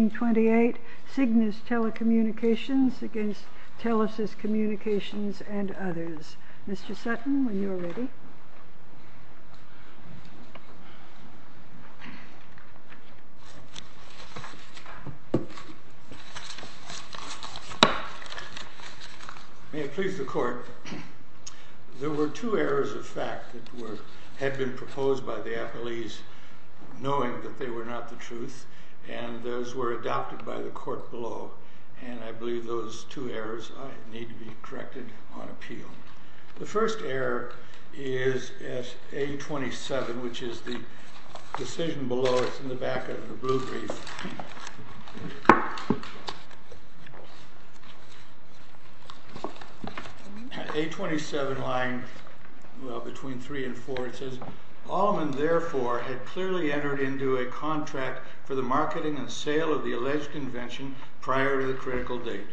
1828, Cignus Telecommunications v. Telesys Communications and others. Mr. Sutton, when you are ready. May it please the Court. There were two errors of fact that had been proposed by the appellees, knowing that they were not the truth, and those were adopted by the Court below. And I believe those two errors need to be corrected on appeal. The first error is at A27, which is the decision below, it's in the back of the blue brief. At A27 lying between 3 and 4 it says, Allman therefore had clearly entered into a contract for the marketing and sale of the alleged invention prior to the critical date.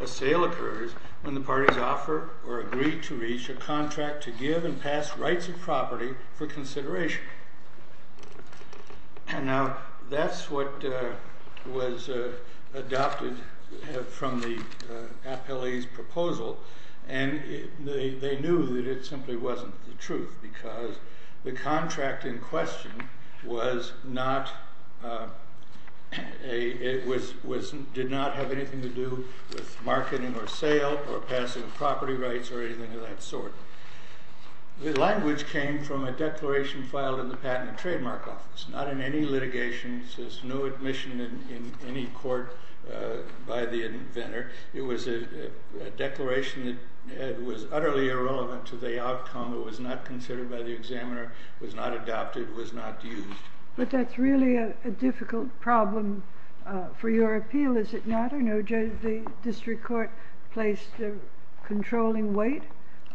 A sale occurs when the parties offer or agree to reach a contract to give and pass rights of property for consideration. Now that's what was adopted from the appellee's proposal, and they knew that it simply wasn't the truth, because the contract in question did not have anything to do with marketing or sale or passing of property rights or anything of that sort. The language came from a declaration filed in the Patent and Trademark Office, not in any litigation, there's no admission in any court by the inventor. It was a declaration that was utterly irrelevant to the outcome, it was not considered by the examiner, it was not adopted, it was not used. But that's really a difficult problem for your appeal, is it not? No, the district court placed a controlling weight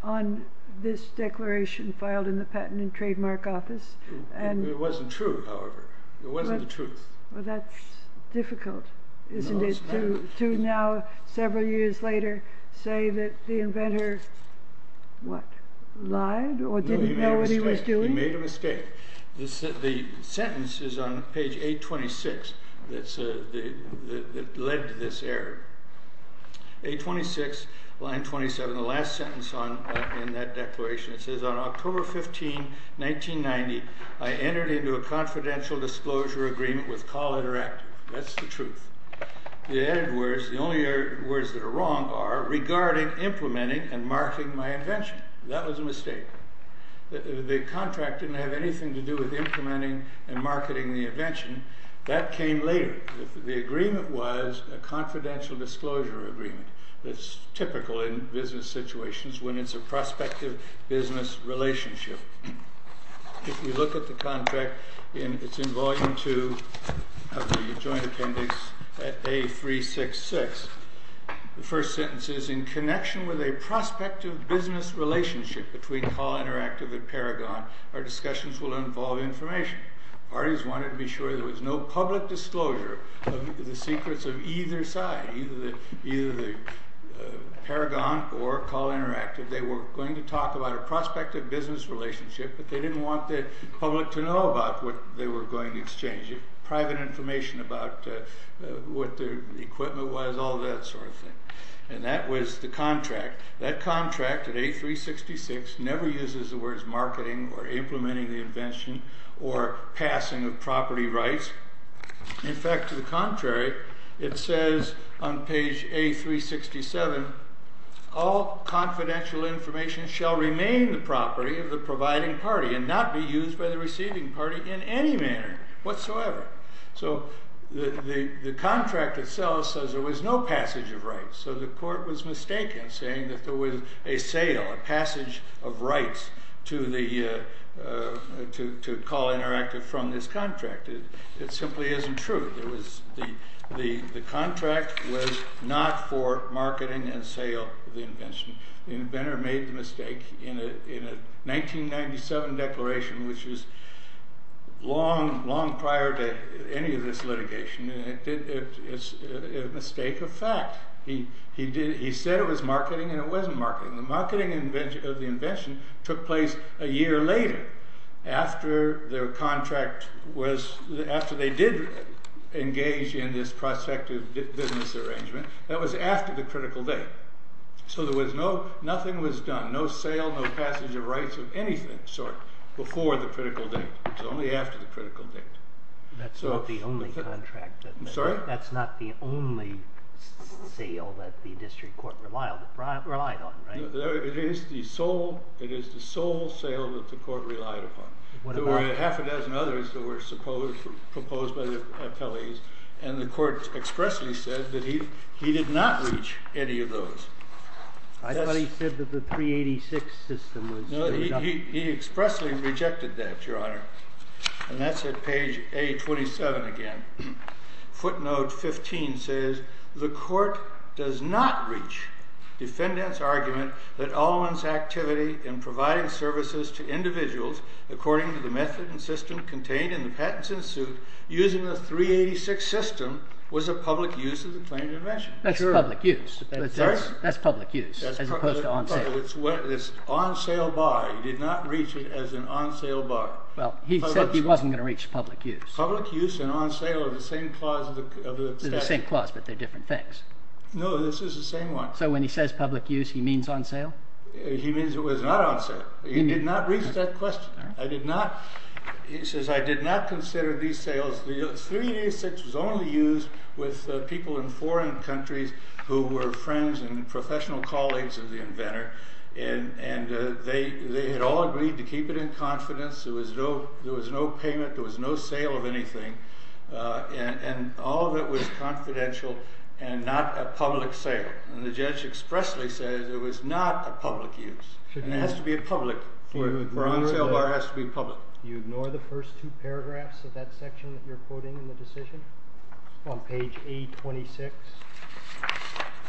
on this declaration filed in the Patent and Trademark Office. It wasn't true, however. It wasn't the truth. That's difficult, isn't it, to now, several years later, say that the inventor lied or didn't know what he was doing? He made a mistake. The sentence is on page 826 that led to this error. 826, line 27, the last sentence in that declaration, it says, On October 15, 1990, I entered into a confidential disclosure agreement with Call Interactive. That's the truth. The added words, the only words that are wrong are, That was a mistake. The contract didn't have anything to do with implementing and marketing the invention. That came later. The agreement was a confidential disclosure agreement. It's typical in business situations when it's a prospective business relationship. If you look at the contract, it's in Volume 2 of the Joint Appendix at A366. The first sentence is, In connection with a prospective business relationship between Call Interactive and Paragon, our discussions will involve information. Parties wanted to be sure there was no public disclosure of the secrets of either side, either Paragon or Call Interactive. They were going to talk about a prospective business relationship, but they didn't want the public to know about what they were going to exchange. Private information about what their equipment was, all that sort of thing. And that was the contract. That contract at A366 never uses the words marketing or implementing the invention or passing of property rights. In fact, to the contrary, it says on page A367, All confidential information shall remain the property of the providing party and not be used by the receiving party in any manner whatsoever. So the contract itself says there was no passage of rights. So the court was mistaken, saying that there was a sale, a passage of rights to Call Interactive from this contract. It simply isn't true. The contract was not for marketing and sale of the invention. The inventor made the mistake in a 1997 declaration, which was long, long prior to any of this litigation. It's a mistake of fact. He said it was marketing and it wasn't marketing. The marketing of the invention took place a year later, after their contract was, after they did engage in this prospective business arrangement. That was after the critical date. So there was no, nothing was done. No sale, no passage of rights of anything sort before the critical date. It was only after the critical date. That's not the only contract. I'm sorry? That's not the only sale that the district court relied on, right? It is the sole sale that the court relied upon. There were half a dozen others that were proposed by the appellees, and the court expressly said that he did not reach any of those. I thought he said that the 386 system was enough. He expressly rejected that, Your Honor. And that's at page A27 again. Footnote 15 says, The court does not reach defendant's argument that Allman's activity in providing services to individuals according to the method and system contained in the patents in suit, using the 386 system, was a public use of the claimed invention. That's public use. That's public use, as opposed to on sale. It's on sale by. He did not reach it as an on sale by. Well, he said he wasn't going to reach public use. Public use and on sale are the same clause of the statute. They're the same clause, but they're different things. No, this is the same one. So when he says public use, he means on sale? He means it was not on sale. He did not reach that question. He says, I did not consider these sales. The 386 was only used with people in foreign countries who were friends and professional colleagues of the inventor, and they had all agreed to keep it in confidence. There was no payment. There was no sale of anything. And all of it was confidential and not a public sale. And the judge expressly says it was not a public use. And it has to be a public. For an on sale bar, it has to be public. Do you ignore the first two paragraphs of that section that you're quoting in the decision? On page 826?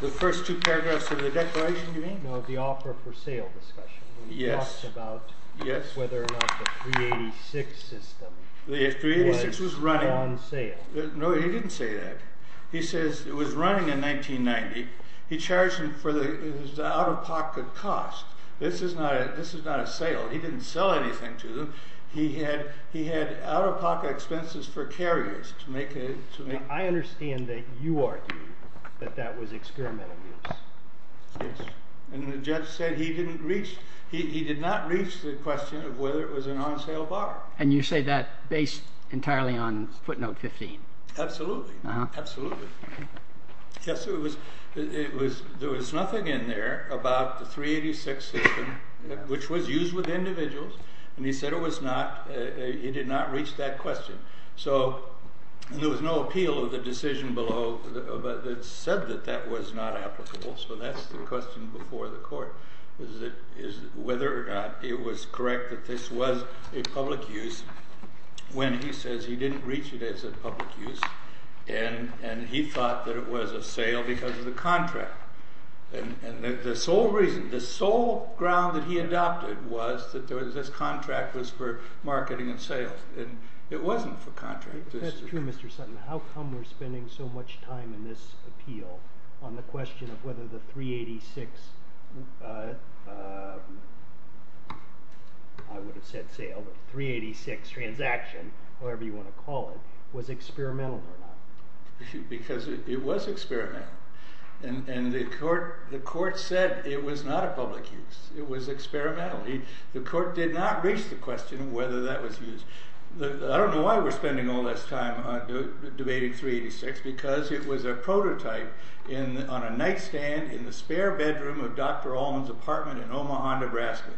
The first two paragraphs of the declaration, you mean? No, the offer for sale discussion. Yes. When he talks about whether or not the 386 system was... The 386 was running. ...was on sale. No, he didn't say that. He says it was running in 1990. He charged him for the out-of-pocket cost. This is not a sale. He didn't sell anything to them. He had out-of-pocket expenses for carriers to make a... I understand that you argue that that was experimental use. Yes. And the judge said he didn't reach... He did not reach the question of whether it was an on sale bar. And you say that based entirely on footnote 15. Absolutely. Absolutely. Yes, it was... There was nothing in there about the 386 system, which was used with individuals. And he said it was not... He did not reach that question. So there was no appeal of the decision below that said that that was not applicable. So that's the question before the court. Whether or not it was correct that this was a public use when he says he didn't reach it as a public use. And he thought that it was a sale because of the contract. And the sole reason, the sole ground that he adopted was that this contract was for marketing and sales. And it wasn't for contract. That's true, Mr. Sutton. How come we're spending so much time in this appeal on the question of whether the 386, I would have said sale, 386 transaction, however you want to call it, was experimental or not? Because it was experimental. And the court said it was not a public use. It was experimental. The court did not reach the question of whether that was used. I don't know why we're spending all this time debating 386 because it was a prototype on a nightstand in the spare bedroom of Dr. Allman's apartment in Omaha, Nebraska.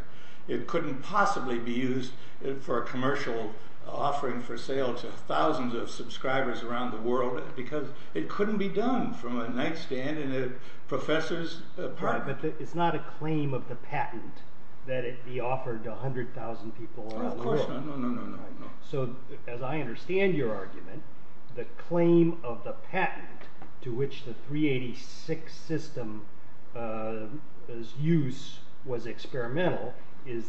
It couldn't possibly be used for a commercial offering for sale to thousands of subscribers around the world because it couldn't be done from a nightstand in a professor's apartment. Right, but it's not a claim of the patent that it be offered to 100,000 people all over the world. No, of course not. No, no, no. So as I understand your argument, the claim of the patent to which the 386 system's use was experimental is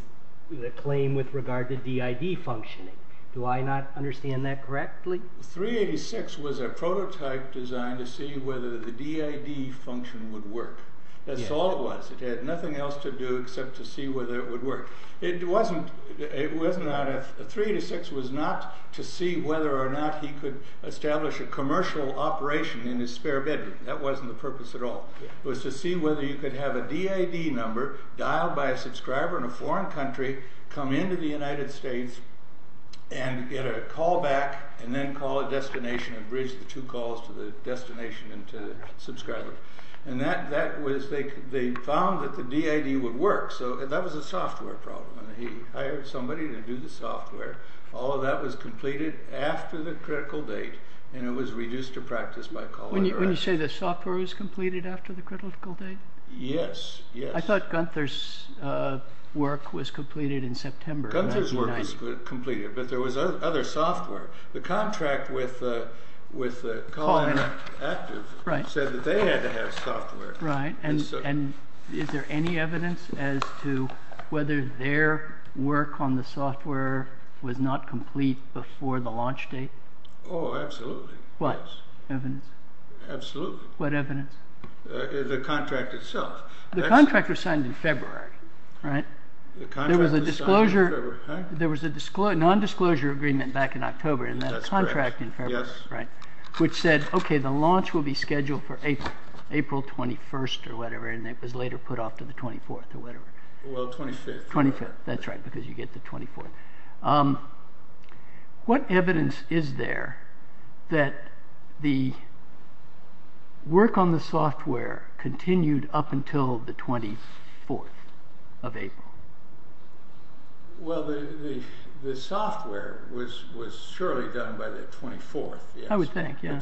the claim with regard to DID functioning. Do I not understand that correctly? The 386 was a prototype designed to see whether the DID function would work. That's all it was. It had nothing else to do except to see whether it would work. The 386 was not to see whether or not he could establish a commercial operation in his spare bedroom. That wasn't the purpose at all. It was to see whether you could have a DID number dialed by a subscriber in a foreign country, come into the United States, and get a call back and then call a destination and bridge the two calls to the destination and to the subscriber. They found that the DID would work. So that was a software problem. He hired somebody to do the software. All of that was completed after the critical date, and it was reduced to practice by Colin Durant. When you say the software was completed after the critical date? Yes, yes. I thought Gunther's work was completed in September of 1990. Gunther's work was completed, but there was other software. The contract with Colin Active said that they had to have software. Right. Is there any evidence as to whether their work on the software was not complete before the launch date? Oh, absolutely. What evidence? Absolutely. What evidence? The contract itself. The contract was signed in February, right? The contract was signed in February. There was a non-disclosure agreement back in October, and then a contract in February, right, which said, okay, the launch will be scheduled for April, April 21st or whatever, and it was later put off to the 24th or whatever. Well, 25th. 25th, that's right, because you get the 24th. What evidence is there that the work on the software continued up until the 24th of April? Well, the software was surely done by the 24th. I would think, yeah.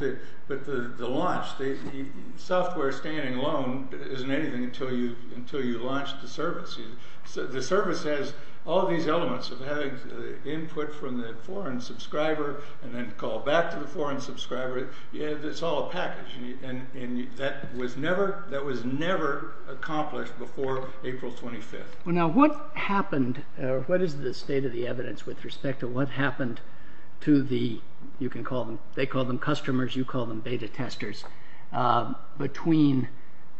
But the launch, the software standing alone isn't anything until you launch the service. The service has all these elements of having input from the foreign subscriber and then call back to the foreign subscriber. It's all a package, and that was never accomplished before April 25th. Now, what happened, or what is the state of the evidence with respect to what happened to the, you can call them, they call them customers, you call them beta testers, between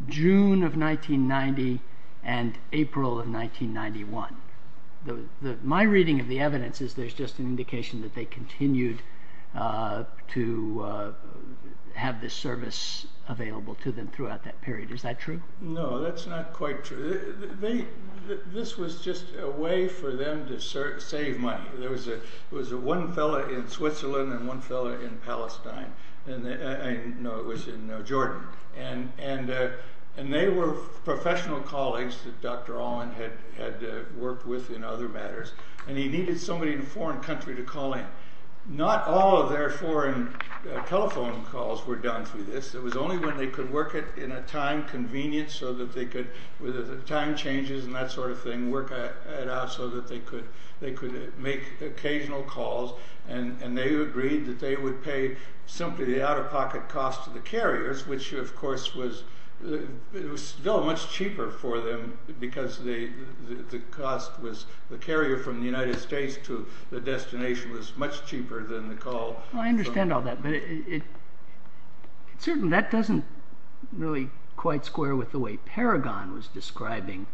June of 1990 and April of 1991? My reading of the evidence is there's just an indication that they continued to have this service available to them throughout that period. Is that true? No, that's not quite true. This was just a way for them to save money. There was one fellow in Switzerland and one fellow in Palestine. No, it was in Jordan. And they were professional colleagues that Dr. Allen had worked with in other matters, and he needed somebody in a foreign country to call in. Not all of their foreign telephone calls were done through this. It was only when they could work it in a time convenient so that they could, with the time changes and that sort of thing, work it out so that they could make occasional calls, and they agreed that they would pay simply the out-of-pocket cost to the carriers, which, of course, was still much cheaper for them because the cost was, the carrier from the United States to the destination was much cheaper than the call. Well, I understand all that, but certainly that doesn't really quite square with the way Paragon was describing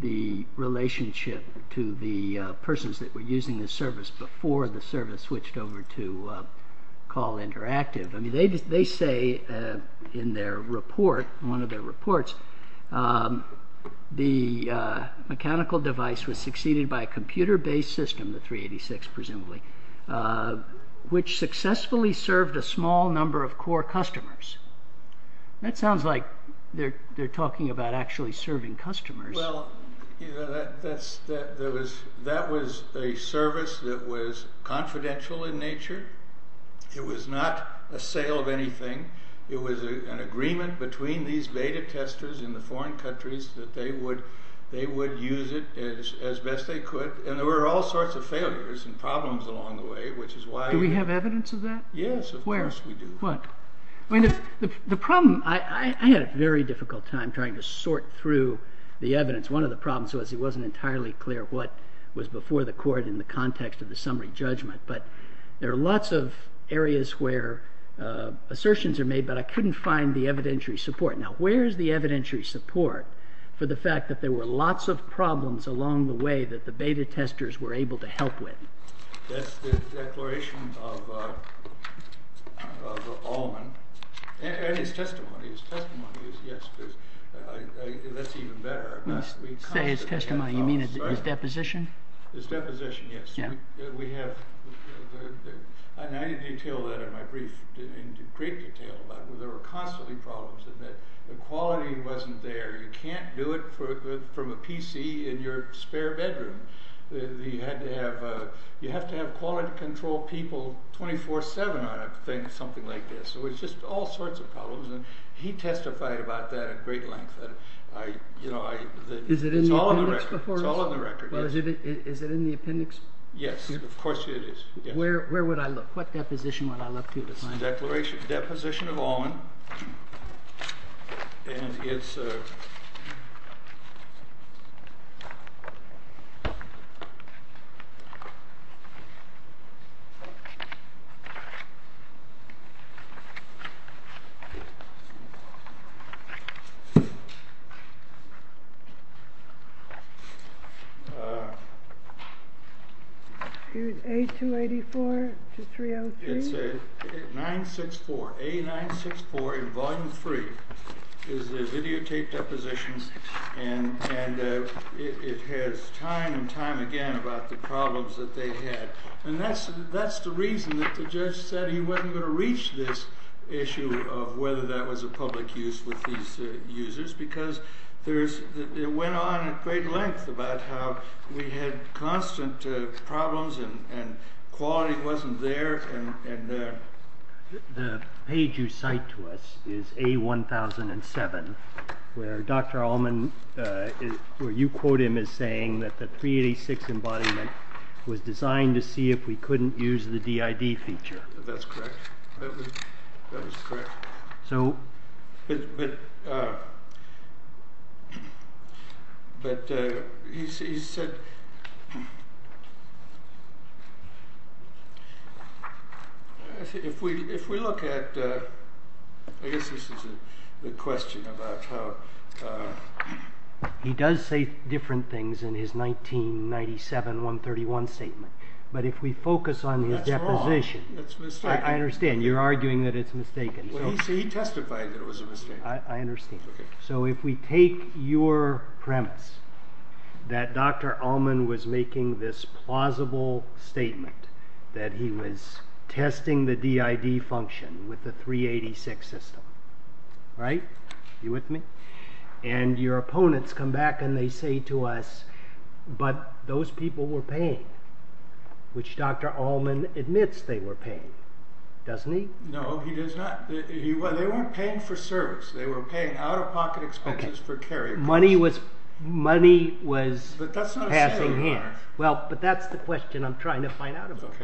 the relationship to the persons that were using the service before the service switched over to Call Interactive. They say in their report, one of their reports, the mechanical device was succeeded by a computer-based system, the 386 presumably, which successfully served a small number of core customers. That sounds like they're talking about actually serving customers. Well, that was a service that was confidential in nature. It was not a sale of anything. It was an agreement between these beta testers in the foreign countries that they would use it as best they could, and there were all sorts of failures and problems along the way, which is why— Do we have evidence of that? Yes, of course we do. Where? What? I had a very difficult time trying to sort through the evidence. One of the problems was it wasn't entirely clear what was before the court in the context of the summary judgment, but there are lots of areas where assertions are made, but I couldn't find the evidentiary support. Now, where is the evidentiary support for the fact that there were lots of problems along the way that the beta testers were able to help with? That's the declaration of Allman, and his testimony. His testimony is—yes, that's even better. When you say his testimony, you mean his deposition? His deposition, yes. We have—and I detail that in my brief in great detail. There were constantly problems in that the quality wasn't there. You can't do it from a PC in your spare bedroom. You have to have quality control people 24-7 on a thing, something like this. So it's just all sorts of problems, and he testified about that at great length. It's all in the record. Is it in the appendix? Yes, of course it is. Where would I look? What deposition would I look to to find it? It's the deposition of Allman, and it's— Here's A284 to 303. It's 964. A964 in Volume 3 is the videotaped deposition, and it has time and time again about the problems that they had. And that's the reason that the judge said he wasn't going to reach this issue of whether that was a public use with these users, because it went on at great length about how we had constant problems and quality wasn't there. The page you cite to us is A1007, where Dr. Allman— where you quote him as saying that the 386 embodiment was designed to see if we couldn't use the DID feature. That's correct. But he said— If we look at—I guess this is the question about how— He does say different things in his 1997 131 statement, but if we focus on his deposition— That's wrong. That's mistaken. I understand. You're arguing that it's mistaken. He testified that it was a mistake. I understand. So if we take your premise that Dr. Allman was making this plausible statement that he was testing the DID function with the 386 system, right? Are you with me? And your opponents come back and they say to us, but those people were paying, which Dr. Allman admits they were paying. Doesn't he? No, he does not. They weren't paying for service. They were paying out-of-pocket expenses for carrier costs. Money was passing in. But that's not a sale anymore. But that's the question I'm trying to find out about.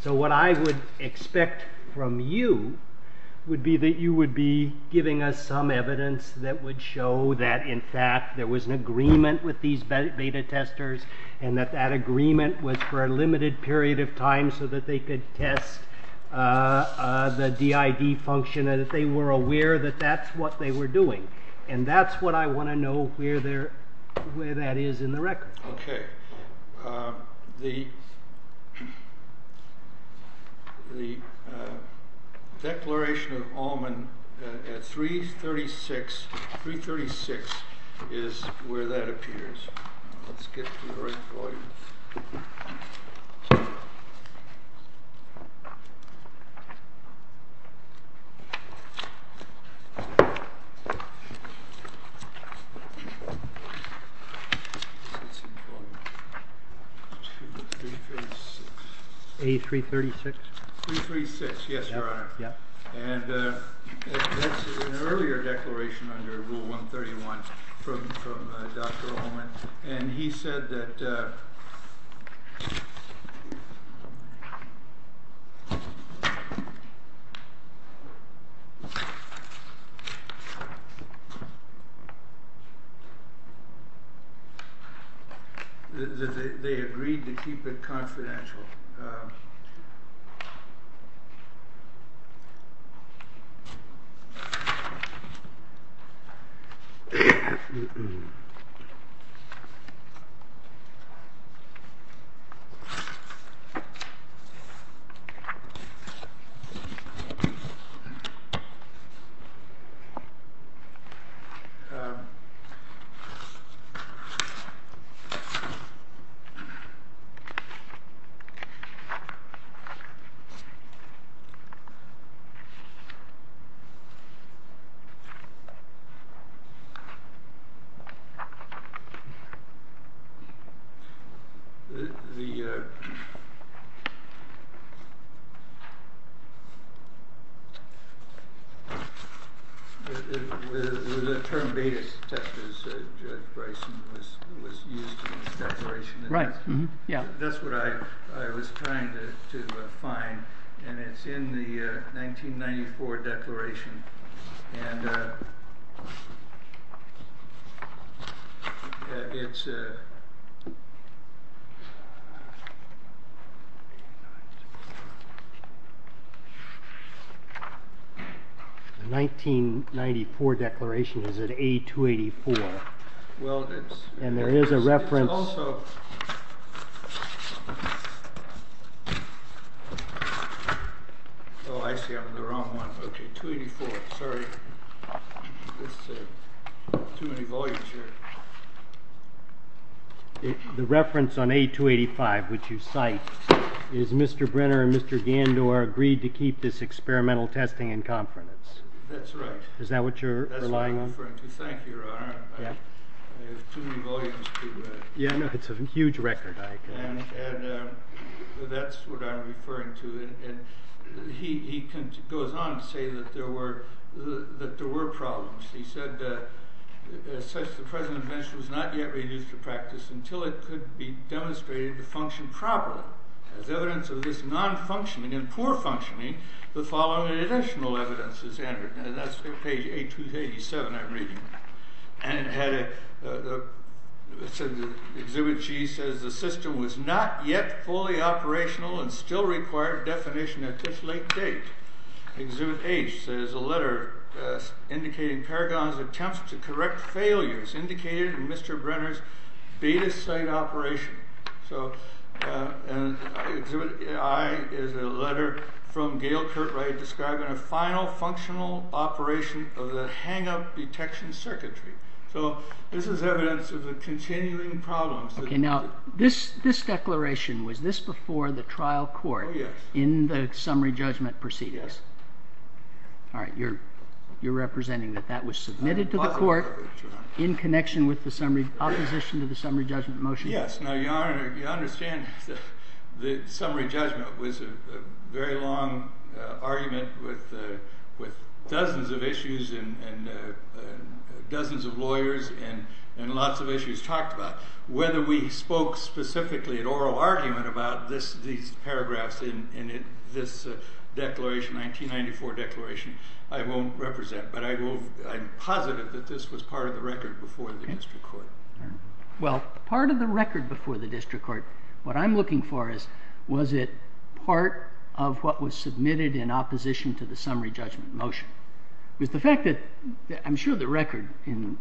So what I would expect from you would be that you would be giving us some evidence that would show that, in fact, there was an agreement with these beta testers and that that agreement was for a limited period of time so that they could test the DID function and that they were aware that that's what they were doing. And that's what I want to know where that is in the record. Okay. The declaration of Allman at 336 is where that appears. Let's get to the right volume. A336? A336, yes, Your Honor. And that's an earlier declaration under Rule 131 from Dr. Allman. And he said that they agreed to keep it confidential. All right. The term beta testers, Judge Bryson, was used in his declaration. That's what I was trying to find. And it's in the 1994 declaration. And it's... The 1994 declaration is at A284. And there is a reference... It's also... Oh, I see. I'm on the wrong one. Okay, 284. Sorry. There's too many volumes here. The reference on A285, which you cite, is Mr. Brenner and Mr. Gandor agreed to keep this experimental testing in confidence. That's right. Is that what you're relying on? That's what I'm referring to. Thank you, Your Honor. I have too many volumes to... Yeah, no, it's a huge record, I agree. And that's what I'm referring to. And he goes on to say that there were problems. He said, as such, the present invention was not yet reduced to practice until it could be demonstrated to function properly. As evidence of this non-functioning and poor functioning, the following additional evidence is entered. And that's page A287 I'm reading. And it had a... Exhibit G says the system was not yet fully operational and still required definition at this late date. Exhibit H says a letter indicating Paragon's attempts to correct failures indicated in Mr. Brenner's beta site operation. So... Exhibit I is a letter from Gail Curtright describing a final functional operation of the hang-up detection circuitry. So this is evidence of the continuing problems... Okay, now, this declaration, was this before the trial court? Oh, yes. In the summary judgment proceedings? Yes. All right, you're representing that that was submitted to the court in connection with the summary... opposition to the summary judgment motion? Yes. Now, Your Honor, you understand that the summary judgment was a very long argument with dozens of issues and dozens of lawyers and lots of issues talked about. Whether we spoke specifically at oral argument about these paragraphs in this declaration, 1994 declaration, I won't represent. But I'm positive that this was part of the record before the district court. Well, part of the record before the district court, what I'm looking for is, was it part of what was submitted in opposition to the summary judgment motion? Because the fact that, I'm sure the record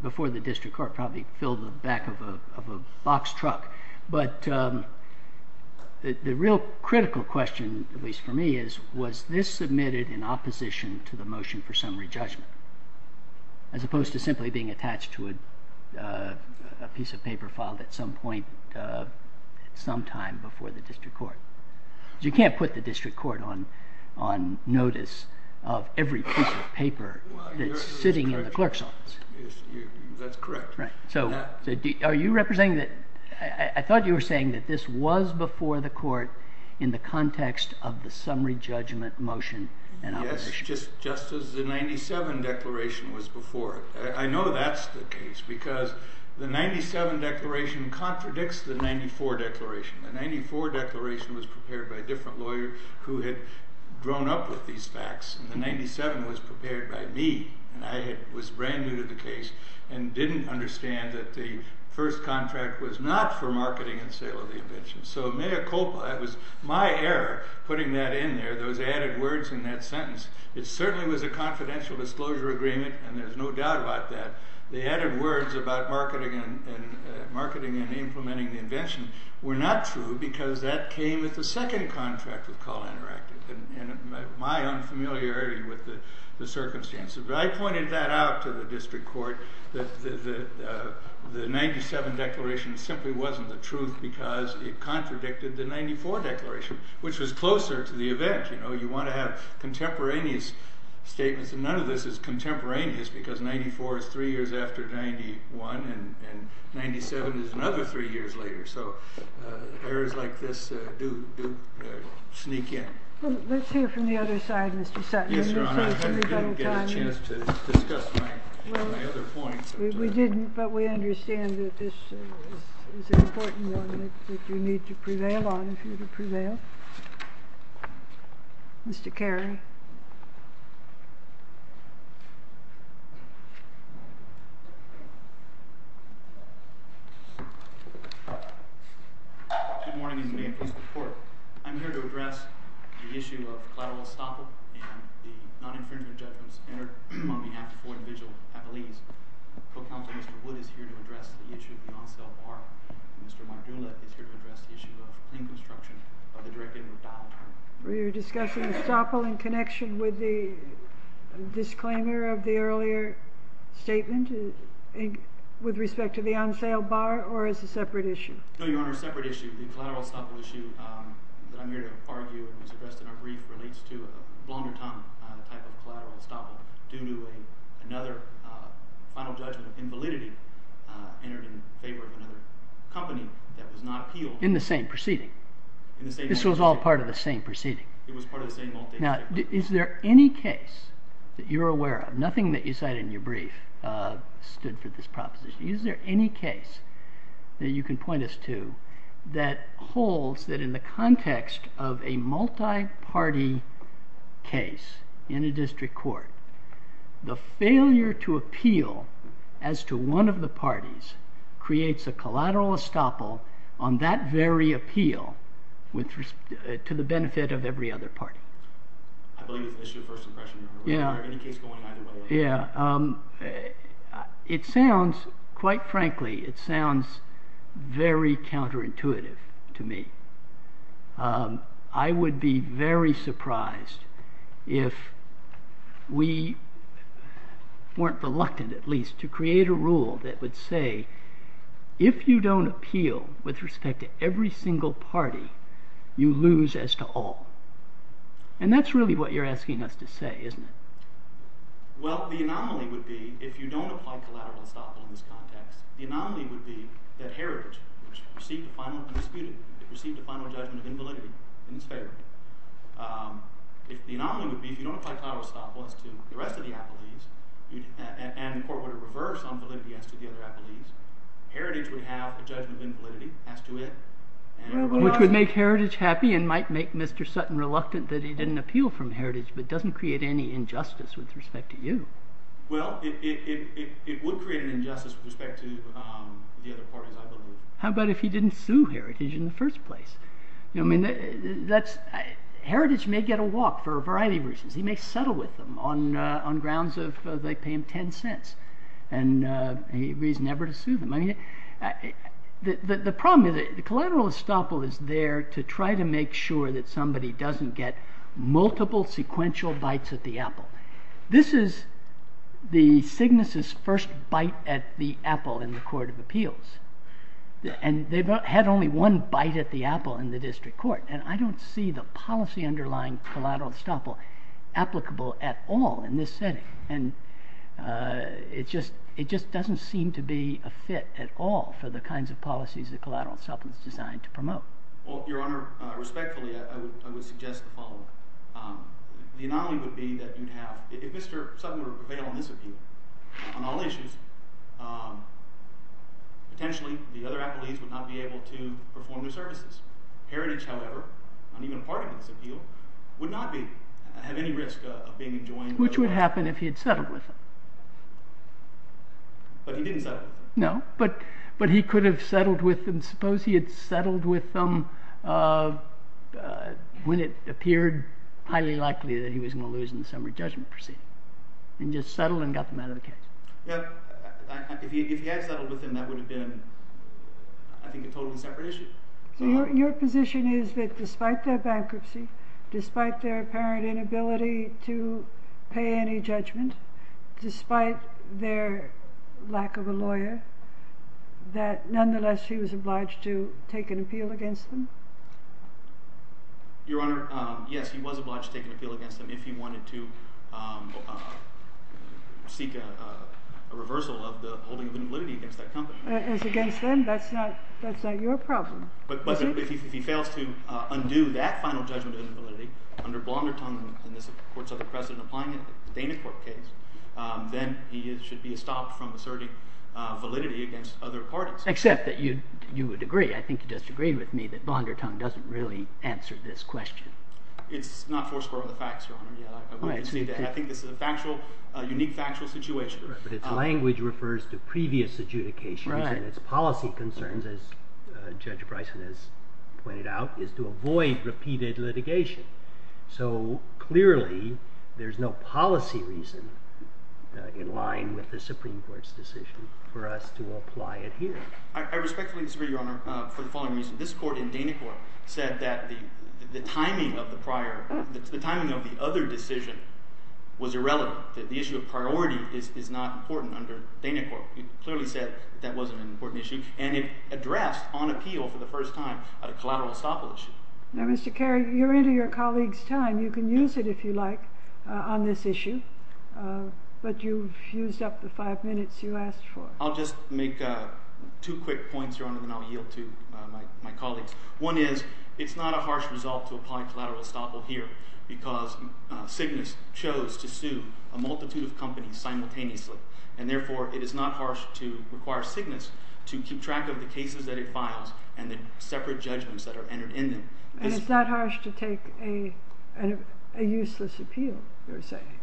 before the district court probably filled the back of a box truck, but the real critical question, at least for me, was this submitted in opposition to the motion for summary judgment? As opposed to simply being attached to a piece of paper filed at some point, sometime before the district court. You can't put the district court on notice of every piece of paper that's sitting in the clerk's office. That's correct. Are you representing that, I thought you were saying that this was before the court in the context of the summary judgment motion and opposition. Yes, just as the 97 declaration was before it. I know that's the case because the 97 declaration contradicts the 94 declaration. The 94 declaration was prepared by a different lawyer who had grown up with these facts, and the 97 was prepared by me, and I was brand new to the case and didn't understand that the first contract was not for marketing and sale of the invention. So mea culpa, that was my error putting that in there, those added words in that sentence. It certainly was a confidential disclosure agreement, The added words about marketing and implementing the invention were not true because that came with the second contract with Call Interactive, and my unfamiliarity with the circumstances. But I pointed that out to the district court, that the 97 declaration simply wasn't the truth because it contradicted the 94 declaration, which was closer to the event. You want to have contemporaneous statements, and none of this is contemporaneous because 94 is three years after 91, and 97 is another three years later. So errors like this do sneak in. Let's hear from the other side, Mr. Sutton. Yes, Your Honor. I didn't get a chance to discuss my other points. We didn't, but we understand that this is an important one that you need to prevail on if you're to prevail. Mr. Carey. Good morning, and may it please the court. I'm here to address the issue of collateral estoppel and the non-inferior judgments entered on behalf of four individual appellees. Co-counsel Mr. Wood is here to address the issue of the non-self arm. Mr. Mardula is here to address the issue of the claim construction by the directive of the trial attorney. Were you discussing estoppel in connection with the disclaimer of the earlier statement? With respect to the on-sale bar, or as a separate issue? No, Your Honor, separate issue. The collateral estoppel issue that I'm here to argue and was addressed in our brief relates to a blunderton type of collateral estoppel due to another final judgment of invalidity entered in favor of another company that was not appealed. In the same proceeding? In the same proceeding. This was all part of the same proceeding? It was part of the same all-day proceeding. Now, is there any case that you're aware of, nothing that you cited in your brief stood for this proposition. Is there any case that you can point us to that holds that in the context of a multi-party case in a district court, the failure to appeal as to one of the parties creates a collateral estoppel on that very appeal to the benefit of every other party? I believe it's an issue of first impression, Your Honor. Any case going either way? Yeah. It sounds, quite frankly, it sounds very counterintuitive to me. I would be very surprised if we weren't reluctant, at least, to create a rule that would say if you don't appeal with respect to every single party, you lose as to all. And that's really what you're asking us to say, isn't it? Well, the anomaly would be if you don't apply collateral estoppel in this context, the anomaly would be that Heritage, which received a final and disputed, it received a final judgment of invalidity in its favor. The anomaly would be if you don't apply collateral estoppel as to the rest of the appellees, and the court would reverse on validity as to the other appellees, Heritage would have a judgment of invalidity as to it. Which would make Heritage happy and might make Mr. Sutton reluctant that he didn't appeal from Heritage, but doesn't create any injustice with respect to you. Well, it would create an injustice with respect to the other parties, I believe. How about if he didn't sue Heritage in the first place? I mean, that's, Heritage may get a walk for a variety of reasons. He may settle with them on grounds of they pay him 10 cents, and he agrees never to sue them. I mean, the problem is the collateral estoppel is there to try to make sure that somebody doesn't get multiple sequential bites at the apple. This is the Cygnus' first bite at the apple in the Court of Appeals. And they've had only one bite at the apple in the District Court. And I don't see the policy underlying collateral estoppel applicable at all in this setting. And it just doesn't seem to be a fit at all for the kinds of policies that collateral estoppel is designed to promote. Well, Your Honor, respectfully, I would suggest the following. The anomaly would be that you'd have, if Mr. Sutton were to prevail on this appeal, on all issues, potentially the other appellees would not be able to perform their services. Heritage, however, not even a part of this appeal, would not have any risk of being enjoined. Which would happen if he had settled with them. But he didn't settle. No, but he could have settled with them. Suppose he had settled with them when it appeared highly likely that he was going to lose in the summary judgment proceeding. And just settled and got them out of the case. If he had settled with them, that would have been, I think, a totally separate issue. So your position is that despite their bankruptcy, despite their apparent inability to pay any judgment, despite their lack of a lawyer, that nonetheless he was obliged to take an appeal against them? Your Honor, yes, he was obliged to take an appeal against them if he wanted to seek a reversal of the holding of invalidity against that company. As against them? That's not your problem. But if he fails to undo that final judgment of invalidity, under blonder terms than this Court's other precedent in applying it in the Dana Court case, then he should be stopped from asserting validity against other parties. Except that you would agree, I think you disagreed with me, that blonder tongue doesn't really answer this question. It's not forceful of the facts, Your Honor. I think this is a unique factual situation. But its language refers to previous adjudications, and its policy concerns, as Judge Bryson has pointed out, is to avoid repeated litigation. So clearly, there's no policy reason in line with the Supreme Court's decision for us to apply it here. I respectfully disagree, Your Honor, for the following reason. This Court in Dana Court said that the timing of the other decision was irrelevant, that the issue of priority is not important under Dana Court. It clearly said that that wasn't an important issue, and it addressed on appeal for the first time a collateral estoppel issue. Now, Mr. Carey, you're into your colleague's time. You can use it, if you like, on this issue. But you've used up the five minutes you asked for. I'll just make two quick points, Your Honor, and then I'll yield to my colleagues. One is, it's not a harsh result to apply collateral estoppel here, because Cygnus chose to sue a multitude of companies simultaneously. And therefore, it is not harsh to require Cygnus to keep track of the cases that it files and the separate judgments that are entered in them. And it's not harsh to take a useless appeal, you're saying,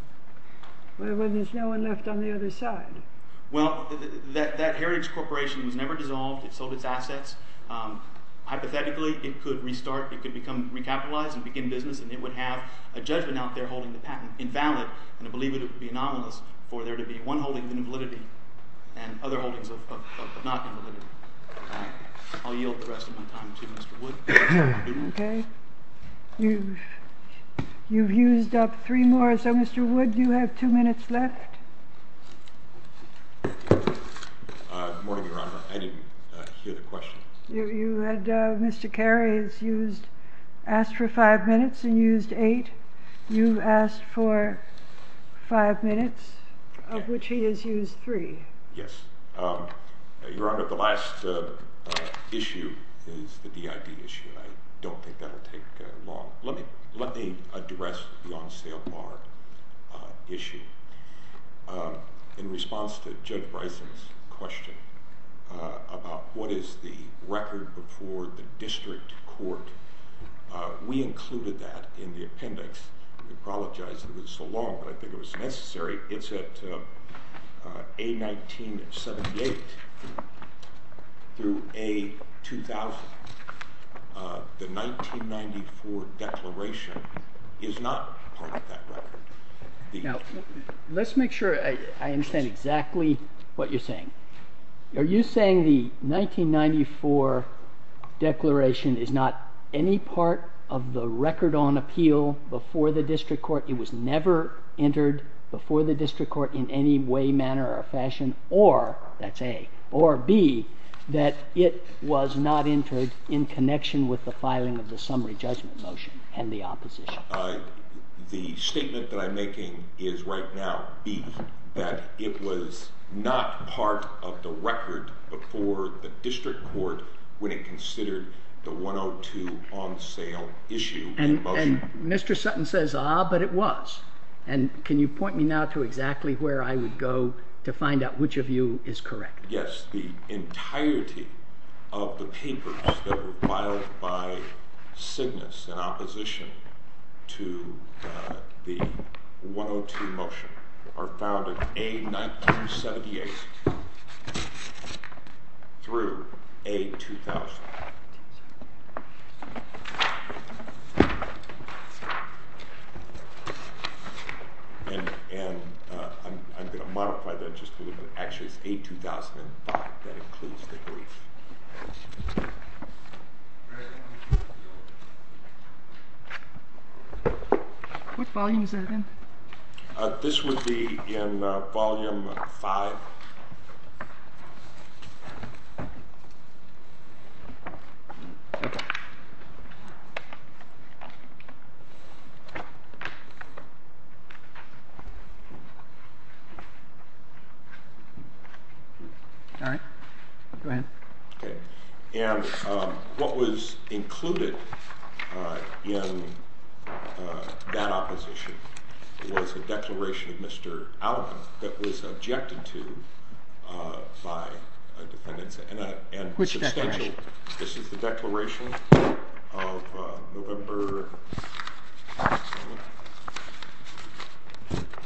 when there's no one left on the other side. Well, that heritage corporation was never dissolved. It sold its assets. Hypothetically, it could restart, it could become recapitalized and begin business, and it would have a judgment out there holding the patent invalid, and I believe it would be anomalous for there to be one holding of invalidity and other holdings of not invalidity. I'll yield the rest of my time to Mr. Wood. Okay. You've used up three more, so Mr. Wood, you have two minutes left. Good morning, Your Honor. I didn't hear the question. You had Mr. Carey asked for five minutes and used eight. You asked for five minutes, of which he has used three. Yes. Your Honor, the last issue is the DID issue, and I don't think that will take long. Let me address the on-sale bar issue. In response to Judge Bryson's question about what is the record before the district court, we included that in the appendix. I apologize it was so long, but I think it was necessary. It's at A1978 through A2000. The 1994 declaration is not part of that record. Now, let's make sure I understand exactly what you're saying. Are you saying the 1994 declaration is not any part of the record on appeal before the district court? It was never entered before the district court in any way, manner, or fashion, or, that's A, or B, that it was not entered in connection with the filing of the summary judgment motion and the opposition? The statement that I'm making is right now, B, that it was not part of the record before the district court when it considered the 102 on-sale issue. And Mr. Sutton says, ah, but it was. And can you point me now to exactly where I would go to find out which of you is correct? Yes, the entirety of the papers that were filed by Cygnus in opposition to the 102 motion are filed at A1978 through A2000. And I'm going to modify that just a little bit. Actually, it's A2005. That includes the brief. What volume is that in? This would be in volume 5. All right. Go ahead. And what was included in that opposition was a declaration of Mr. Allen that was objected to Which declaration?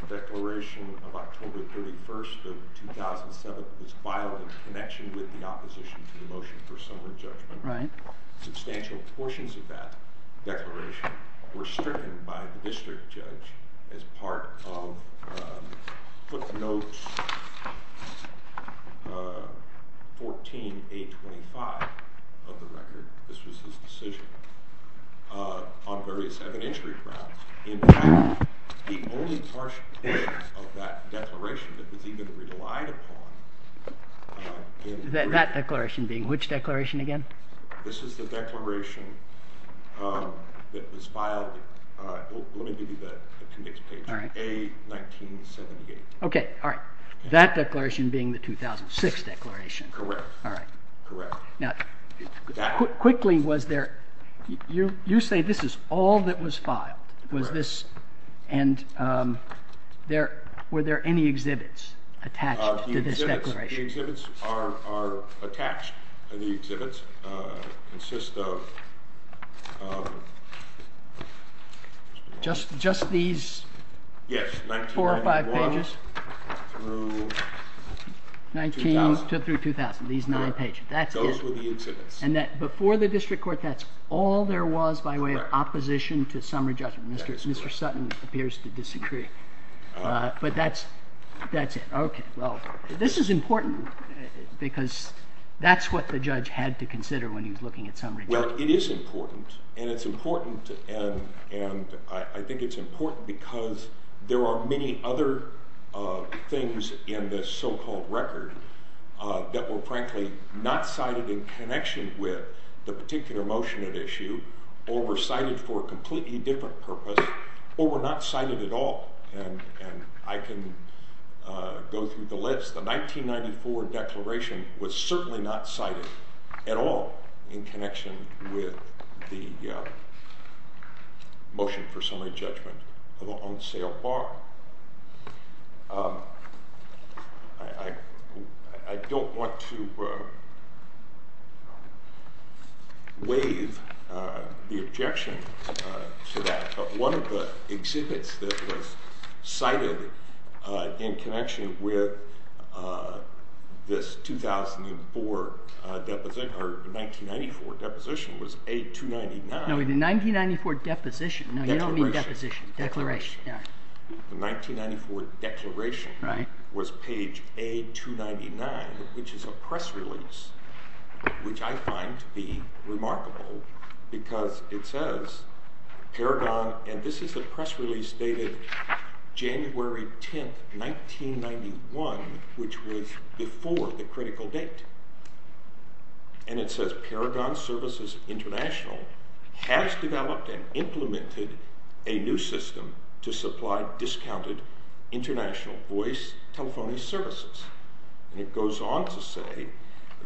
The declaration of October 31st of 2007 was filed in connection with the opposition to the motion for summary judgment. Substantial portions of that declaration were stricken by the district judge as part of footnotes 14-825 of the record. This was his decision. On various evidentiary grounds. In fact, the only partial portions of that declaration that was even relied upon That declaration being which declaration again? This is the declaration that was filed Let me give you the conviction page. A1978. That declaration being the 2006 declaration. Correct. Quickly, you say this is all that was filed. Were there any exhibits attached to this declaration? The exhibits are attached. The exhibits consist of Just these four or five pages? 19-2000. These nine pages. Those were the exhibits. Before the district court, that's all there was by way of opposition to summary judgment. Mr. Sutton appears to disagree. But that's it. This is important because that's what the judge had to consider when he was looking at summary judgment. It is important. I think it's important because there are many other things in this so-called record that were frankly not cited in connection with the particular motion at issue or were cited for a completely different purpose or were not cited at all. I can go through the list. The 1994 declaration was certainly not cited at all in connection with the motion for summary judgment on sale bar. I don't want to waive the objection to that, but one of the exhibits that was cited in connection with this 1994 deposition was A299. No, the 1994 deposition. No, you don't mean deposition. Declaration. The 1994 declaration was page A299, which is a press release, which I find to be remarkable because it says Paragon, and this is a press release dated January 10, 1991, which was before the critical date, and it says Paragon Services International has developed and implemented a new system to supply discounted international voice telephony services. It goes on to say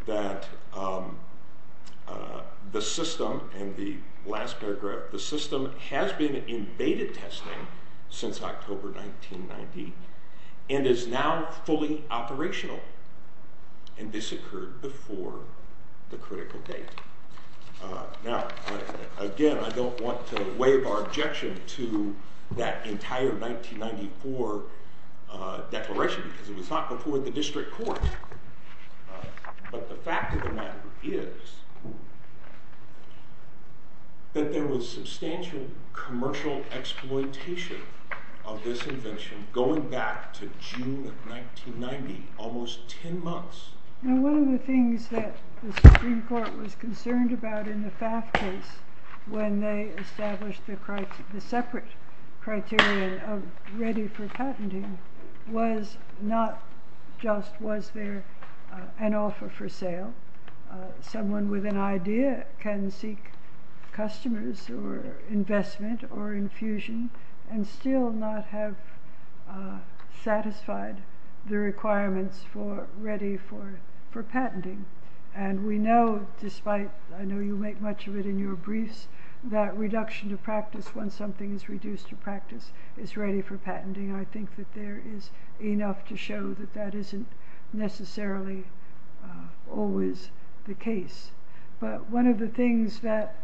that the system, and the last paragraph, the system has been in beta testing since October 1990 and is now fully operational, and this occurred before the critical date. Now, again, I don't want to waive our objection to that entire 1994 declaration because it was not before the district court, but the fact of the matter is that there was substantial commercial exploitation of this invention going back to June of 1990, almost 10 months. One of the things that the Supreme Court was concerned about in the FAF case when they established the separate criteria of ready for patenting was not just was there an offer for sale. Someone with an idea can seek customers or investment or infusion and still not have satisfied the requirements for ready for patenting, and we know despite, I know you make much of it in your briefs, that reduction of practice when something is reduced to practice is ready for patenting. I think that there is enough to show that that isn't necessarily always the case, but one of the things that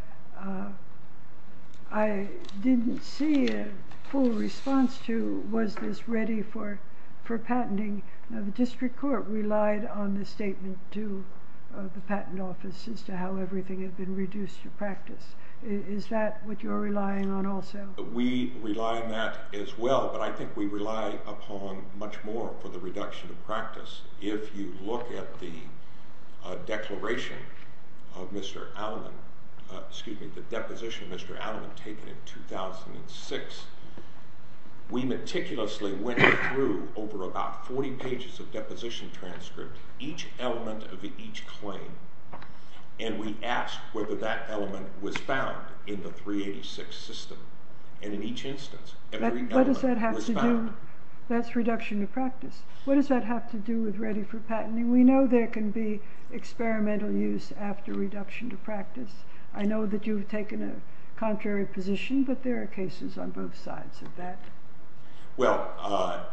I didn't see a full response to was this ready for patenting. The district court relied on the statement to the patent office as to how everything had been reduced to practice. Is that what you're relying on also? We rely on that as well, but I think we rely upon much more for the reduction of practice. If you look at the declaration of Mr. Alleman, excuse me, the deposition of Mr. Alleman taken in 2006, we meticulously went through over about 40 pages of deposition transcript, each element of each claim, and we asked whether that element was found in the 386 system, and in each instance, every element was found. That's reduction of practice. What does that have to do with ready for patenting? We know there can be experimental use after reduction to practice. I know that you've taken a contrary position, but there are cases on both sides of that. Well,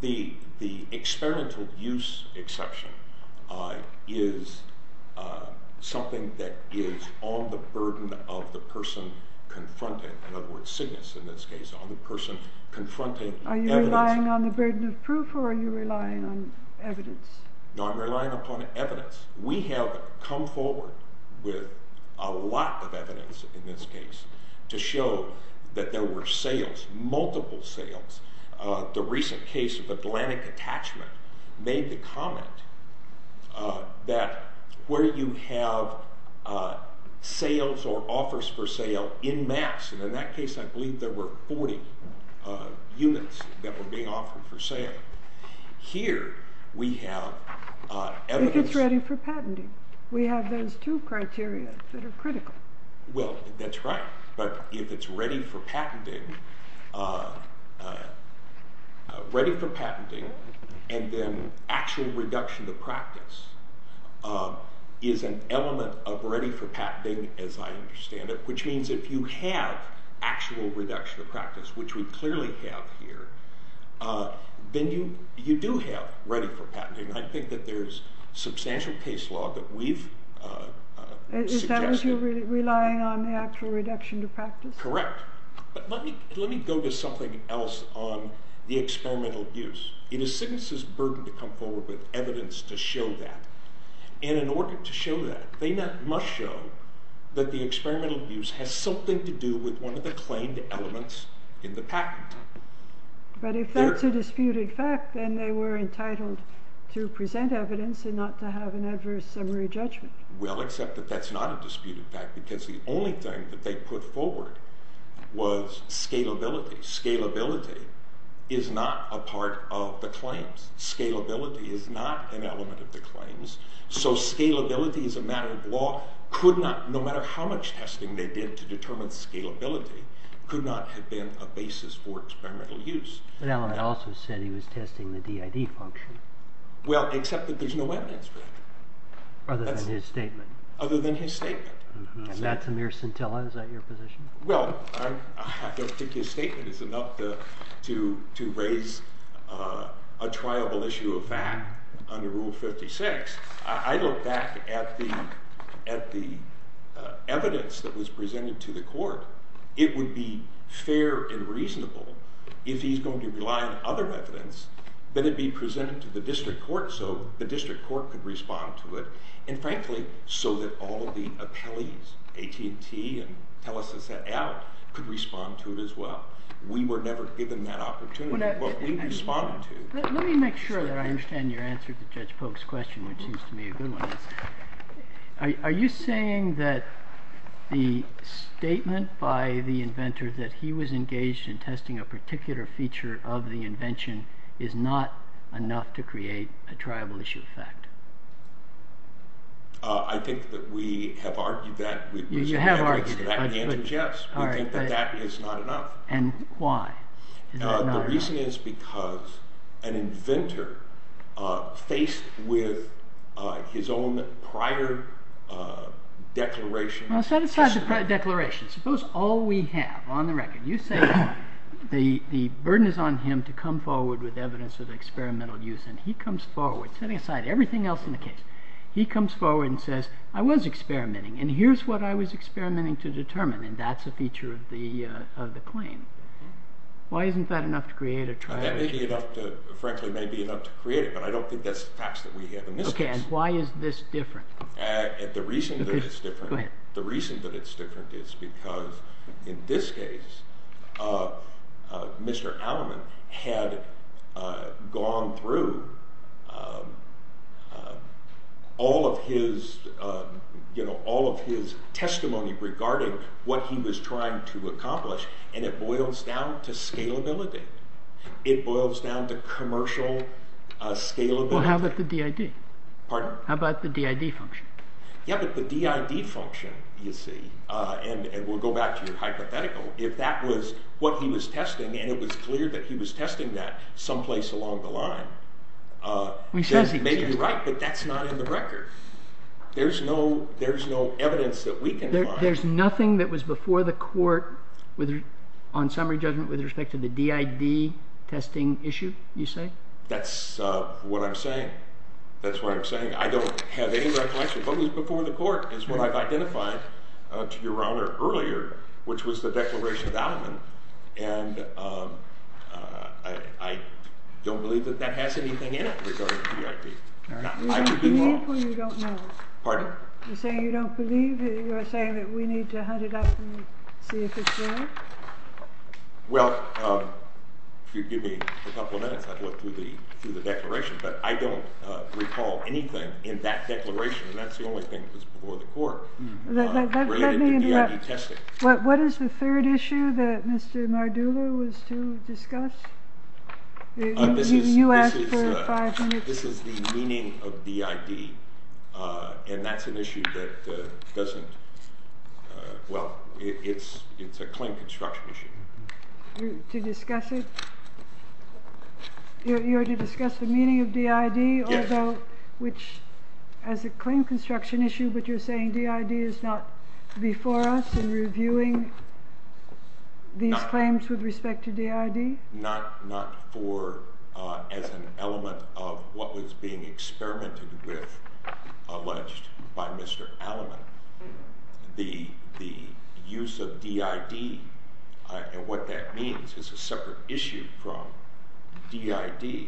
the experimental use exception is something that is on the burden of the person confronting, in other words, Cygnus in this case, on the person confronting evidence. Are you relying on the burden of proof, or are you relying on evidence? No, I'm relying upon evidence. We have come forward with a lot of evidence in this case to show that there were sales, multiple sales. The recent case of Atlantic Attachment made the comment that where you have sales or offers for sale in mass, and in that case, I believe there were 40 units that were being offered for sale. Here, we have evidence... If it's ready for patenting. We have those two criteria that are critical. Well, that's right, but if it's ready for patenting, ready for patenting, and then actual reduction to practice is an element of ready for patenting, as I understand it, which means if you have actual reduction to practice, which we clearly have here, then you do have ready for patenting. I think that there's substantial case law that we've suggested... Is that what you're relying on, the actual reduction to practice? Correct. But let me go to something else on the experimental use. It is Cygnus' burden to come forward with evidence to show that, and in order to show that, they must show that the experimental use has something to do with one of the claimed elements in the patent. But if that's a disputed fact, then they were entitled to present evidence and not to have an adverse summary judgment. Well, except that that's not a disputed fact, because the only thing that they put forward was scalability. Scalability is not a part of the claims. Scalability is not an element of the claims. So scalability as a matter of law could not, no matter how much testing they did to determine scalability, could not have been a basis for experimental use. But Allen also said he was testing the DID function. Well, except that there's no evidence for that. Other than his statement. Other than his statement. And that's a mere scintilla. Is that your position? Well, I don't think his statement is enough to raise a triable issue of fact under Rule 56. I look back at the evidence that was presented to the court. It would be fair and reasonable if he's going to rely on other evidence than it be presented to the district court so the district court could respond to it. And frankly, so that all of the appellees, AT&T and TELUS and CEL, could respond to it as well. We were never given that opportunity, but we responded to it. Let me make sure that I understand your answer to Judge Polk's question, which seems to me a good one. Are you saying that the statement by the inventor that he was engaged in testing a particular feature of the invention is not enough to create a triable issue of fact? I think that we have argued that. You have argued it. We think that that is not enough. And why is that not enough? The reason is because an inventor faced with his own prior declaration... Set aside the prior declaration. Suppose all we have on the record, you say the burden is on him to come forward with evidence of experimental use, and he comes forward, setting aside everything else in the case, he comes forward and says, I was experimenting, and here's what I was experimenting to determine, and that's a feature of the claim. Why isn't that enough to create a triable issue? That may be enough to create it, but I don't think that's the facts that we have in this case. Okay, and why is this different? The reason that it's different is because in this case, Mr. Alleman had gone through all of his testimony regarding what he was trying to accomplish, and it boils down to scalability. It boils down to commercial scalability. Well, how about the DID? Pardon? How about the DID function? Yeah, but the DID function, you see, and we'll go back to your hypothetical, if that was what he was testing, and it was clear that he was testing that someplace along the line, then he may be right, but that's not in the record. There's no evidence that we can find. There's nothing that was before the court on summary judgment with respect to the DID testing issue, you say? That's what I'm saying. That's what I'm saying. I don't have any recollection. What was before the court is what I've identified to Your Honor earlier, which was the declaration of Alleman, and I don't believe that that has anything in it regarding the DID. You don't believe or you don't know? Pardon? You're saying you don't believe, you're saying that we need to hunt it up and see if it's there? Well, if you'd give me a couple of minutes, I'd look through the declaration, but I don't recall anything in that declaration, and that's the only thing that was before the court related to DID testing. Let me interrupt. What is the third issue that Mr. Mardula was to discuss? You asked for five minutes. This is the meaning of DID, and that's an issue that doesn't, well, it's a claim construction issue. To discuss it? You're to discuss the meaning of DID, which is a claim construction issue, but you're saying DID is not before us in reviewing these claims with respect to DID? Not as an element of what was being experimented with, alleged by Mr. Alleman. The use of DID and what that means is a separate issue from DID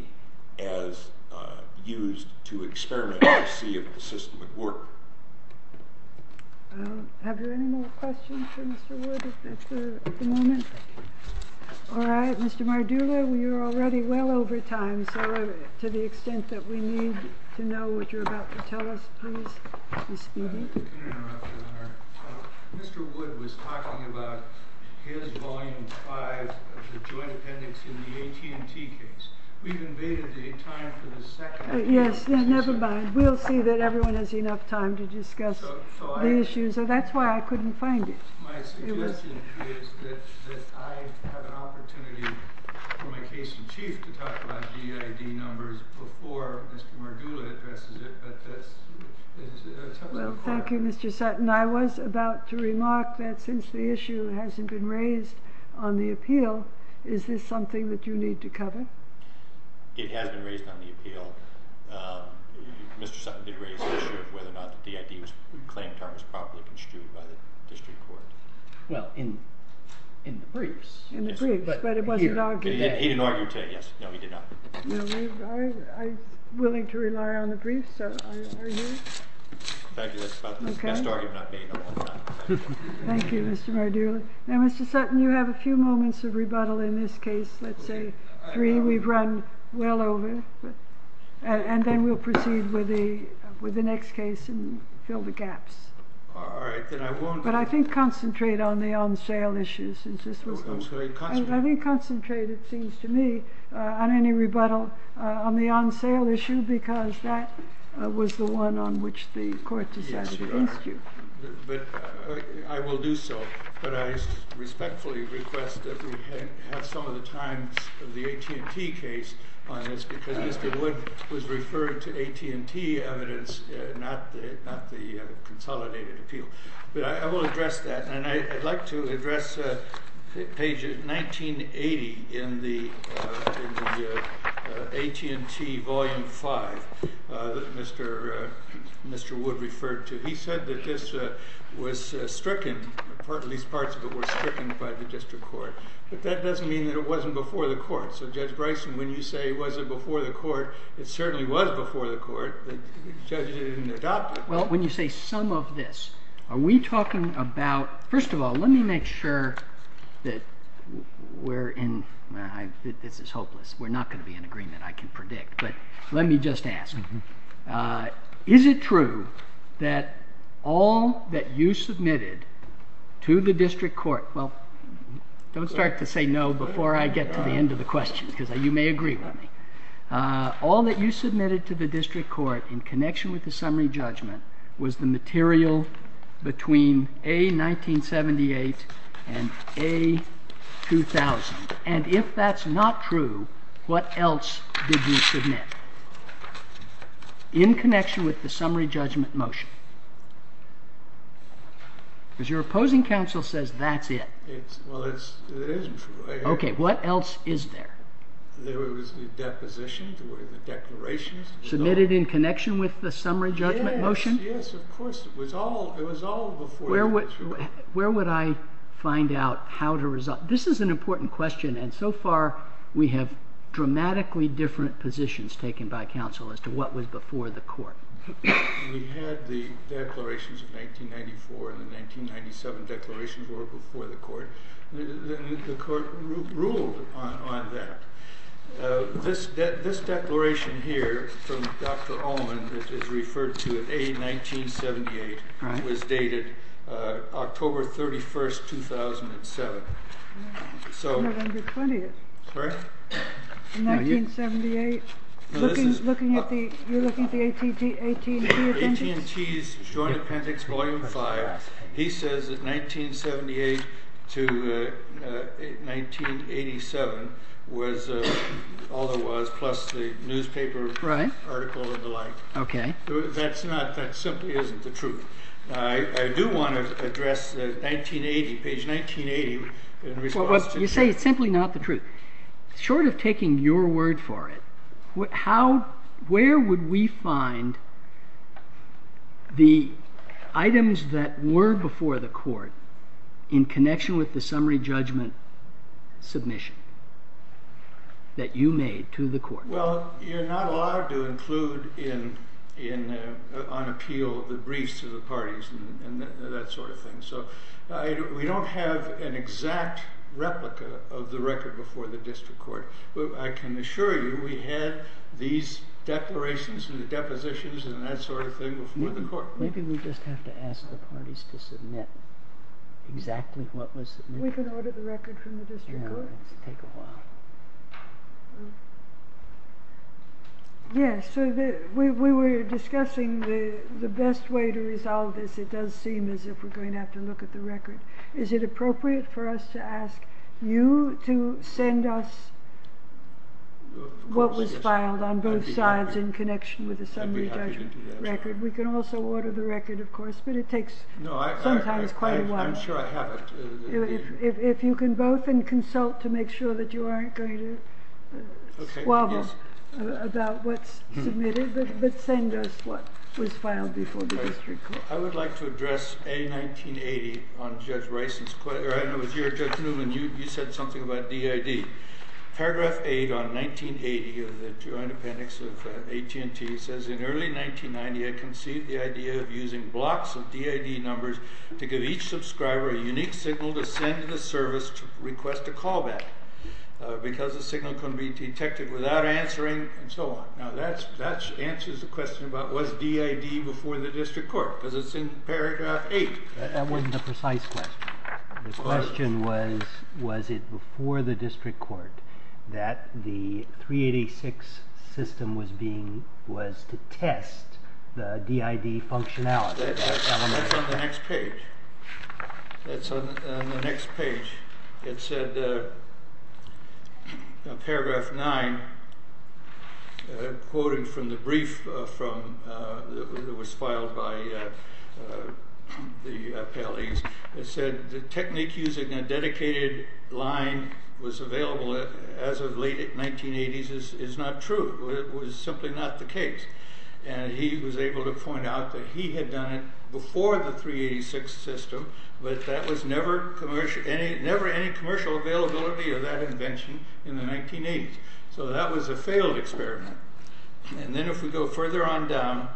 as used to experiment and see if the system would work. Have there any more questions for Mr. Wood at the moment? All right. Mr. Mardula, we are already well over time, so to the extent that we need to know what you're about to tell us, please be speedy. Mr. Wood was talking about his Volume 5 of the joint appendix in the AT&T case. We've invaded the time for the second. Yes, never mind. We'll see that everyone has enough time to discuss the issue, so that's why I couldn't find it. My suggestion is that I have an opportunity for my case in chief to talk about DID numbers before Mr. Mardula addresses it, but that's... Well, thank you, Mr. Sutton. I was about to remark that since the issue hasn't been raised on the appeal, is this something that you need to cover? It has been raised on the appeal. Mr. Sutton did raise the issue of whether or not the DID claim term is properly construed by the district court. Well, in the briefs. In the briefs, but it wasn't argued. He didn't argue today, yes. No, he did not. I'm willing to rely on the briefs, so I argue. In fact, that's about the best argument I've made in a long time. Thank you, Mr. Mardula. Now, Mr. Sutton, you have a few moments of rebuttal in this case, let's say three we've run well over, and then we'll proceed with the next case and fill the gaps. All right, then I won't... But I think concentrate on the on-sale issues. I think concentrate, it seems to me, on any rebuttal on the on-sale issue because that was the one on which the court decided against you. I will do so, but I respectfully request that we have some of the times of the AT&T case on this because Mr. Wood was referring to AT&T evidence, not the consolidated appeal. But I will address that, and I'd like to address page 1980 in the AT&T volume 5 that Mr. Wood referred to. He said that this was stricken, at least parts of it were stricken by the district court, but that doesn't mean that it wasn't before the court. So Judge Bryson, when you say was it before the court, it certainly was before the court, but the judge didn't adopt it. Well, when you say some of this, are we talking about... First of all, let me make sure that we're in... This is hopeless. We're not going to be in agreement, I can predict. But let me just ask. Is it true that all that you submitted to the district court... Well, don't start to say no before I get to the end of the question because you may agree with me. All that you submitted to the district court in connection with the summary judgment was the material between A1978 and A2000. And if that's not true, what else did you submit? In connection with the summary judgment motion. Because your opposing counsel says that's it. Well, it is true. Okay, what else is there? There was the deposition, the declarations... Submitted in connection with the summary judgment motion? Yes, of course. It was all before... Where would I find out how to resolve... This is an important question, and so far we have dramatically different positions taken by counsel as to what was before the court. We had the declarations of 1994 and the 1997 declarations were before the court. The court ruled on that. This declaration here from Dr. Ullman, which is referred to as A1978, was dated October 31st, 2007. That's not under 20th. Sorry? 1978. You're looking at the AT&T appendix? AT&T's Joint Appendix, Volume 5. He says that 1978 to 1987 was all there was, plus the newspaper article and the like. That simply isn't the truth. I do want to address page 1980 in response to... You say it's simply not the truth. Short of taking your word for it, where would we find the items that were before the court in connection with the summary judgment submission that you made to the court? Well, you're not allowed to include on appeal the briefs to the parties and that sort of thing. We don't have an exact replica of the record before the district court. I can assure you we had these declarations and the depositions and that sort of thing before the court. Maybe we just have to ask the parties to submit exactly what was submitted. We can order the record from the district court. It's going to take a while. Yes, we were discussing the best way to resolve this. It does seem as if we're going to have to look at the record. Is it appropriate for us to ask you to send us what was filed on both sides in connection with the summary judgment record? We can also order the record, of course, but it takes sometimes quite a while. I'm sure I have it. If you can both consult to make sure that you aren't going to squabble about what's submitted, but send us what was filed before the district court. I would like to address A1980 on Judge Rison's quote. I know it was you, Judge Newman. You said something about DID. Paragraph 8 on 1980 of the Joint Appendix of AT&T says, in early 1990, I conceived the idea of using blocks of DID numbers to give each subscriber a unique signal to send to the service to request a callback because the signal can be detected without answering, and so on. Now, that answers the question about was DID before the district court because it's in paragraph 8. That wasn't a precise question. The question was, was it before the district court that the 386 system was to test the DID functionality? That's on the next page. That's on the next page. It said, paragraph 9, quoting from the brief that was filed by the appellees, it said, the technique using a dedicated line was available as of late 1980s is not true. It was simply not the case. And he was able to point out that he had done it before the 386 system, but that was never any commercial availability of that invention in the 1980s. So that was a failed experiment. And then if we go further on down,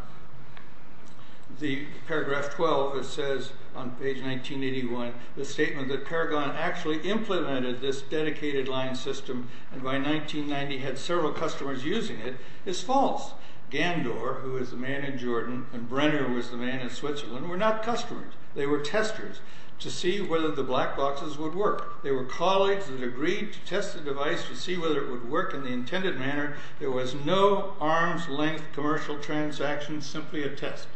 the paragraph 12, it says on page 1981, the statement that Paragon actually implemented this dedicated line system and by 1990 had several customers using it is false. Gandor, who is the man in Jordan, and Brenner, who is the man in Switzerland, were not customers. They were testers to see whether the black boxes would work. They were colleagues that agreed to test the device to see whether it would work in the intended manner. There was no arm's length commercial transaction, simply a test.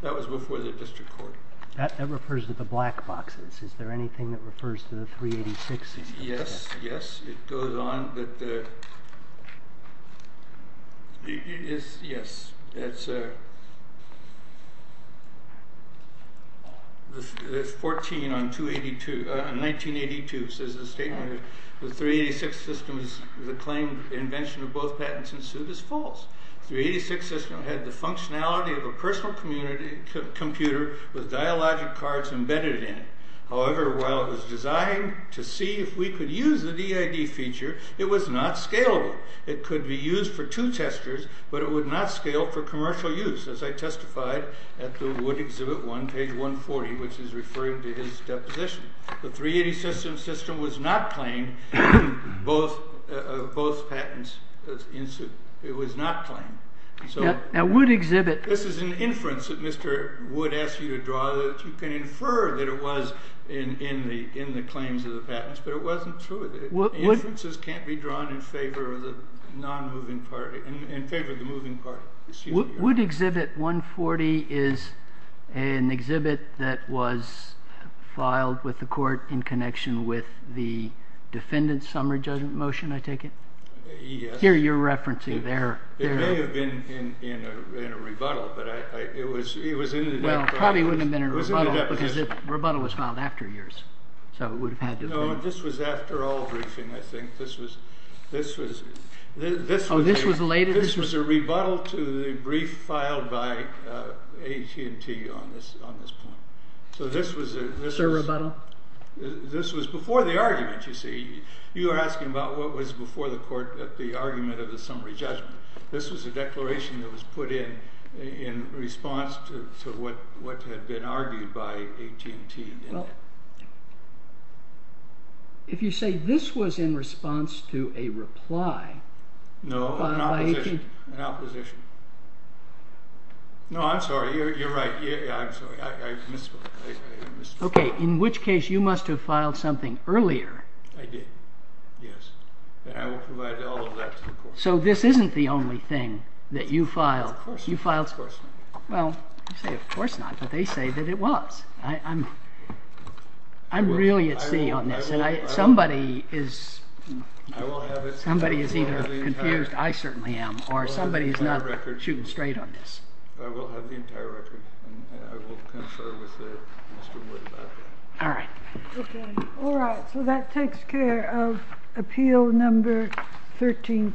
That was before the district court. That refers to the black boxes. Is there anything that refers to the 386 system? Yes, yes. It goes on. Yes, yes. It's 14 on 1982, says the statement. The 386 system is a claim that the invention of both patents and suit is false. The 386 system had the functionality of a personal computer with dialogic cards embedded in it. However, while it was designed to see if we could use the DID feature, it was not scalable. It could be used for two testers, but it would not scale for commercial use, as I testified at the Wood Exhibit 1, page 140, which is referring to his deposition. The 386 system was not claimed, both patents. It was not claimed. Now, Wood Exhibit. This is an inference that Mr. Wood asked you to draw. You can infer that it was in the claims of the patents, but it wasn't true. The inferences can't be drawn in favor of the non-moving party, in favor of the moving party. Wood Exhibit 140 is an exhibit that was filed with the court in connection with the defendant's summary judgment motion, I take it? Yes. Here, you're referencing there. It may have been in a rebuttal, but it was in the deposition. Well, it probably wouldn't have been in a rebuttal, because the rebuttal was filed after yours. No, this was after all briefing, I think. Oh, this was later? This was a rebuttal to the brief filed by AT&T on this point. So this was a rebuttal? This was before the argument, you see. You were asking about what was before the court at the argument of the summary judgment. This was a declaration that was put in in response to what had been argued by AT&T. Well, if you say this was in response to a reply by AT&T. No, an opposition. An opposition. No, I'm sorry. You're right. Yeah, I'm sorry. I missed one. OK, in which case, you must have filed something earlier. I did, yes. And I will provide all of that to the court. So this isn't the only thing that you filed. Of course not. Of course not. Well, you say of course not, but they say that it was. I'm really at sea on this. And somebody is either confused. I certainly am. Or somebody's not shooting straight on this. I will have the entire record. And I will confer with Mr. Wood about that. All right. OK. All right, so that takes care of appeal number 13-2.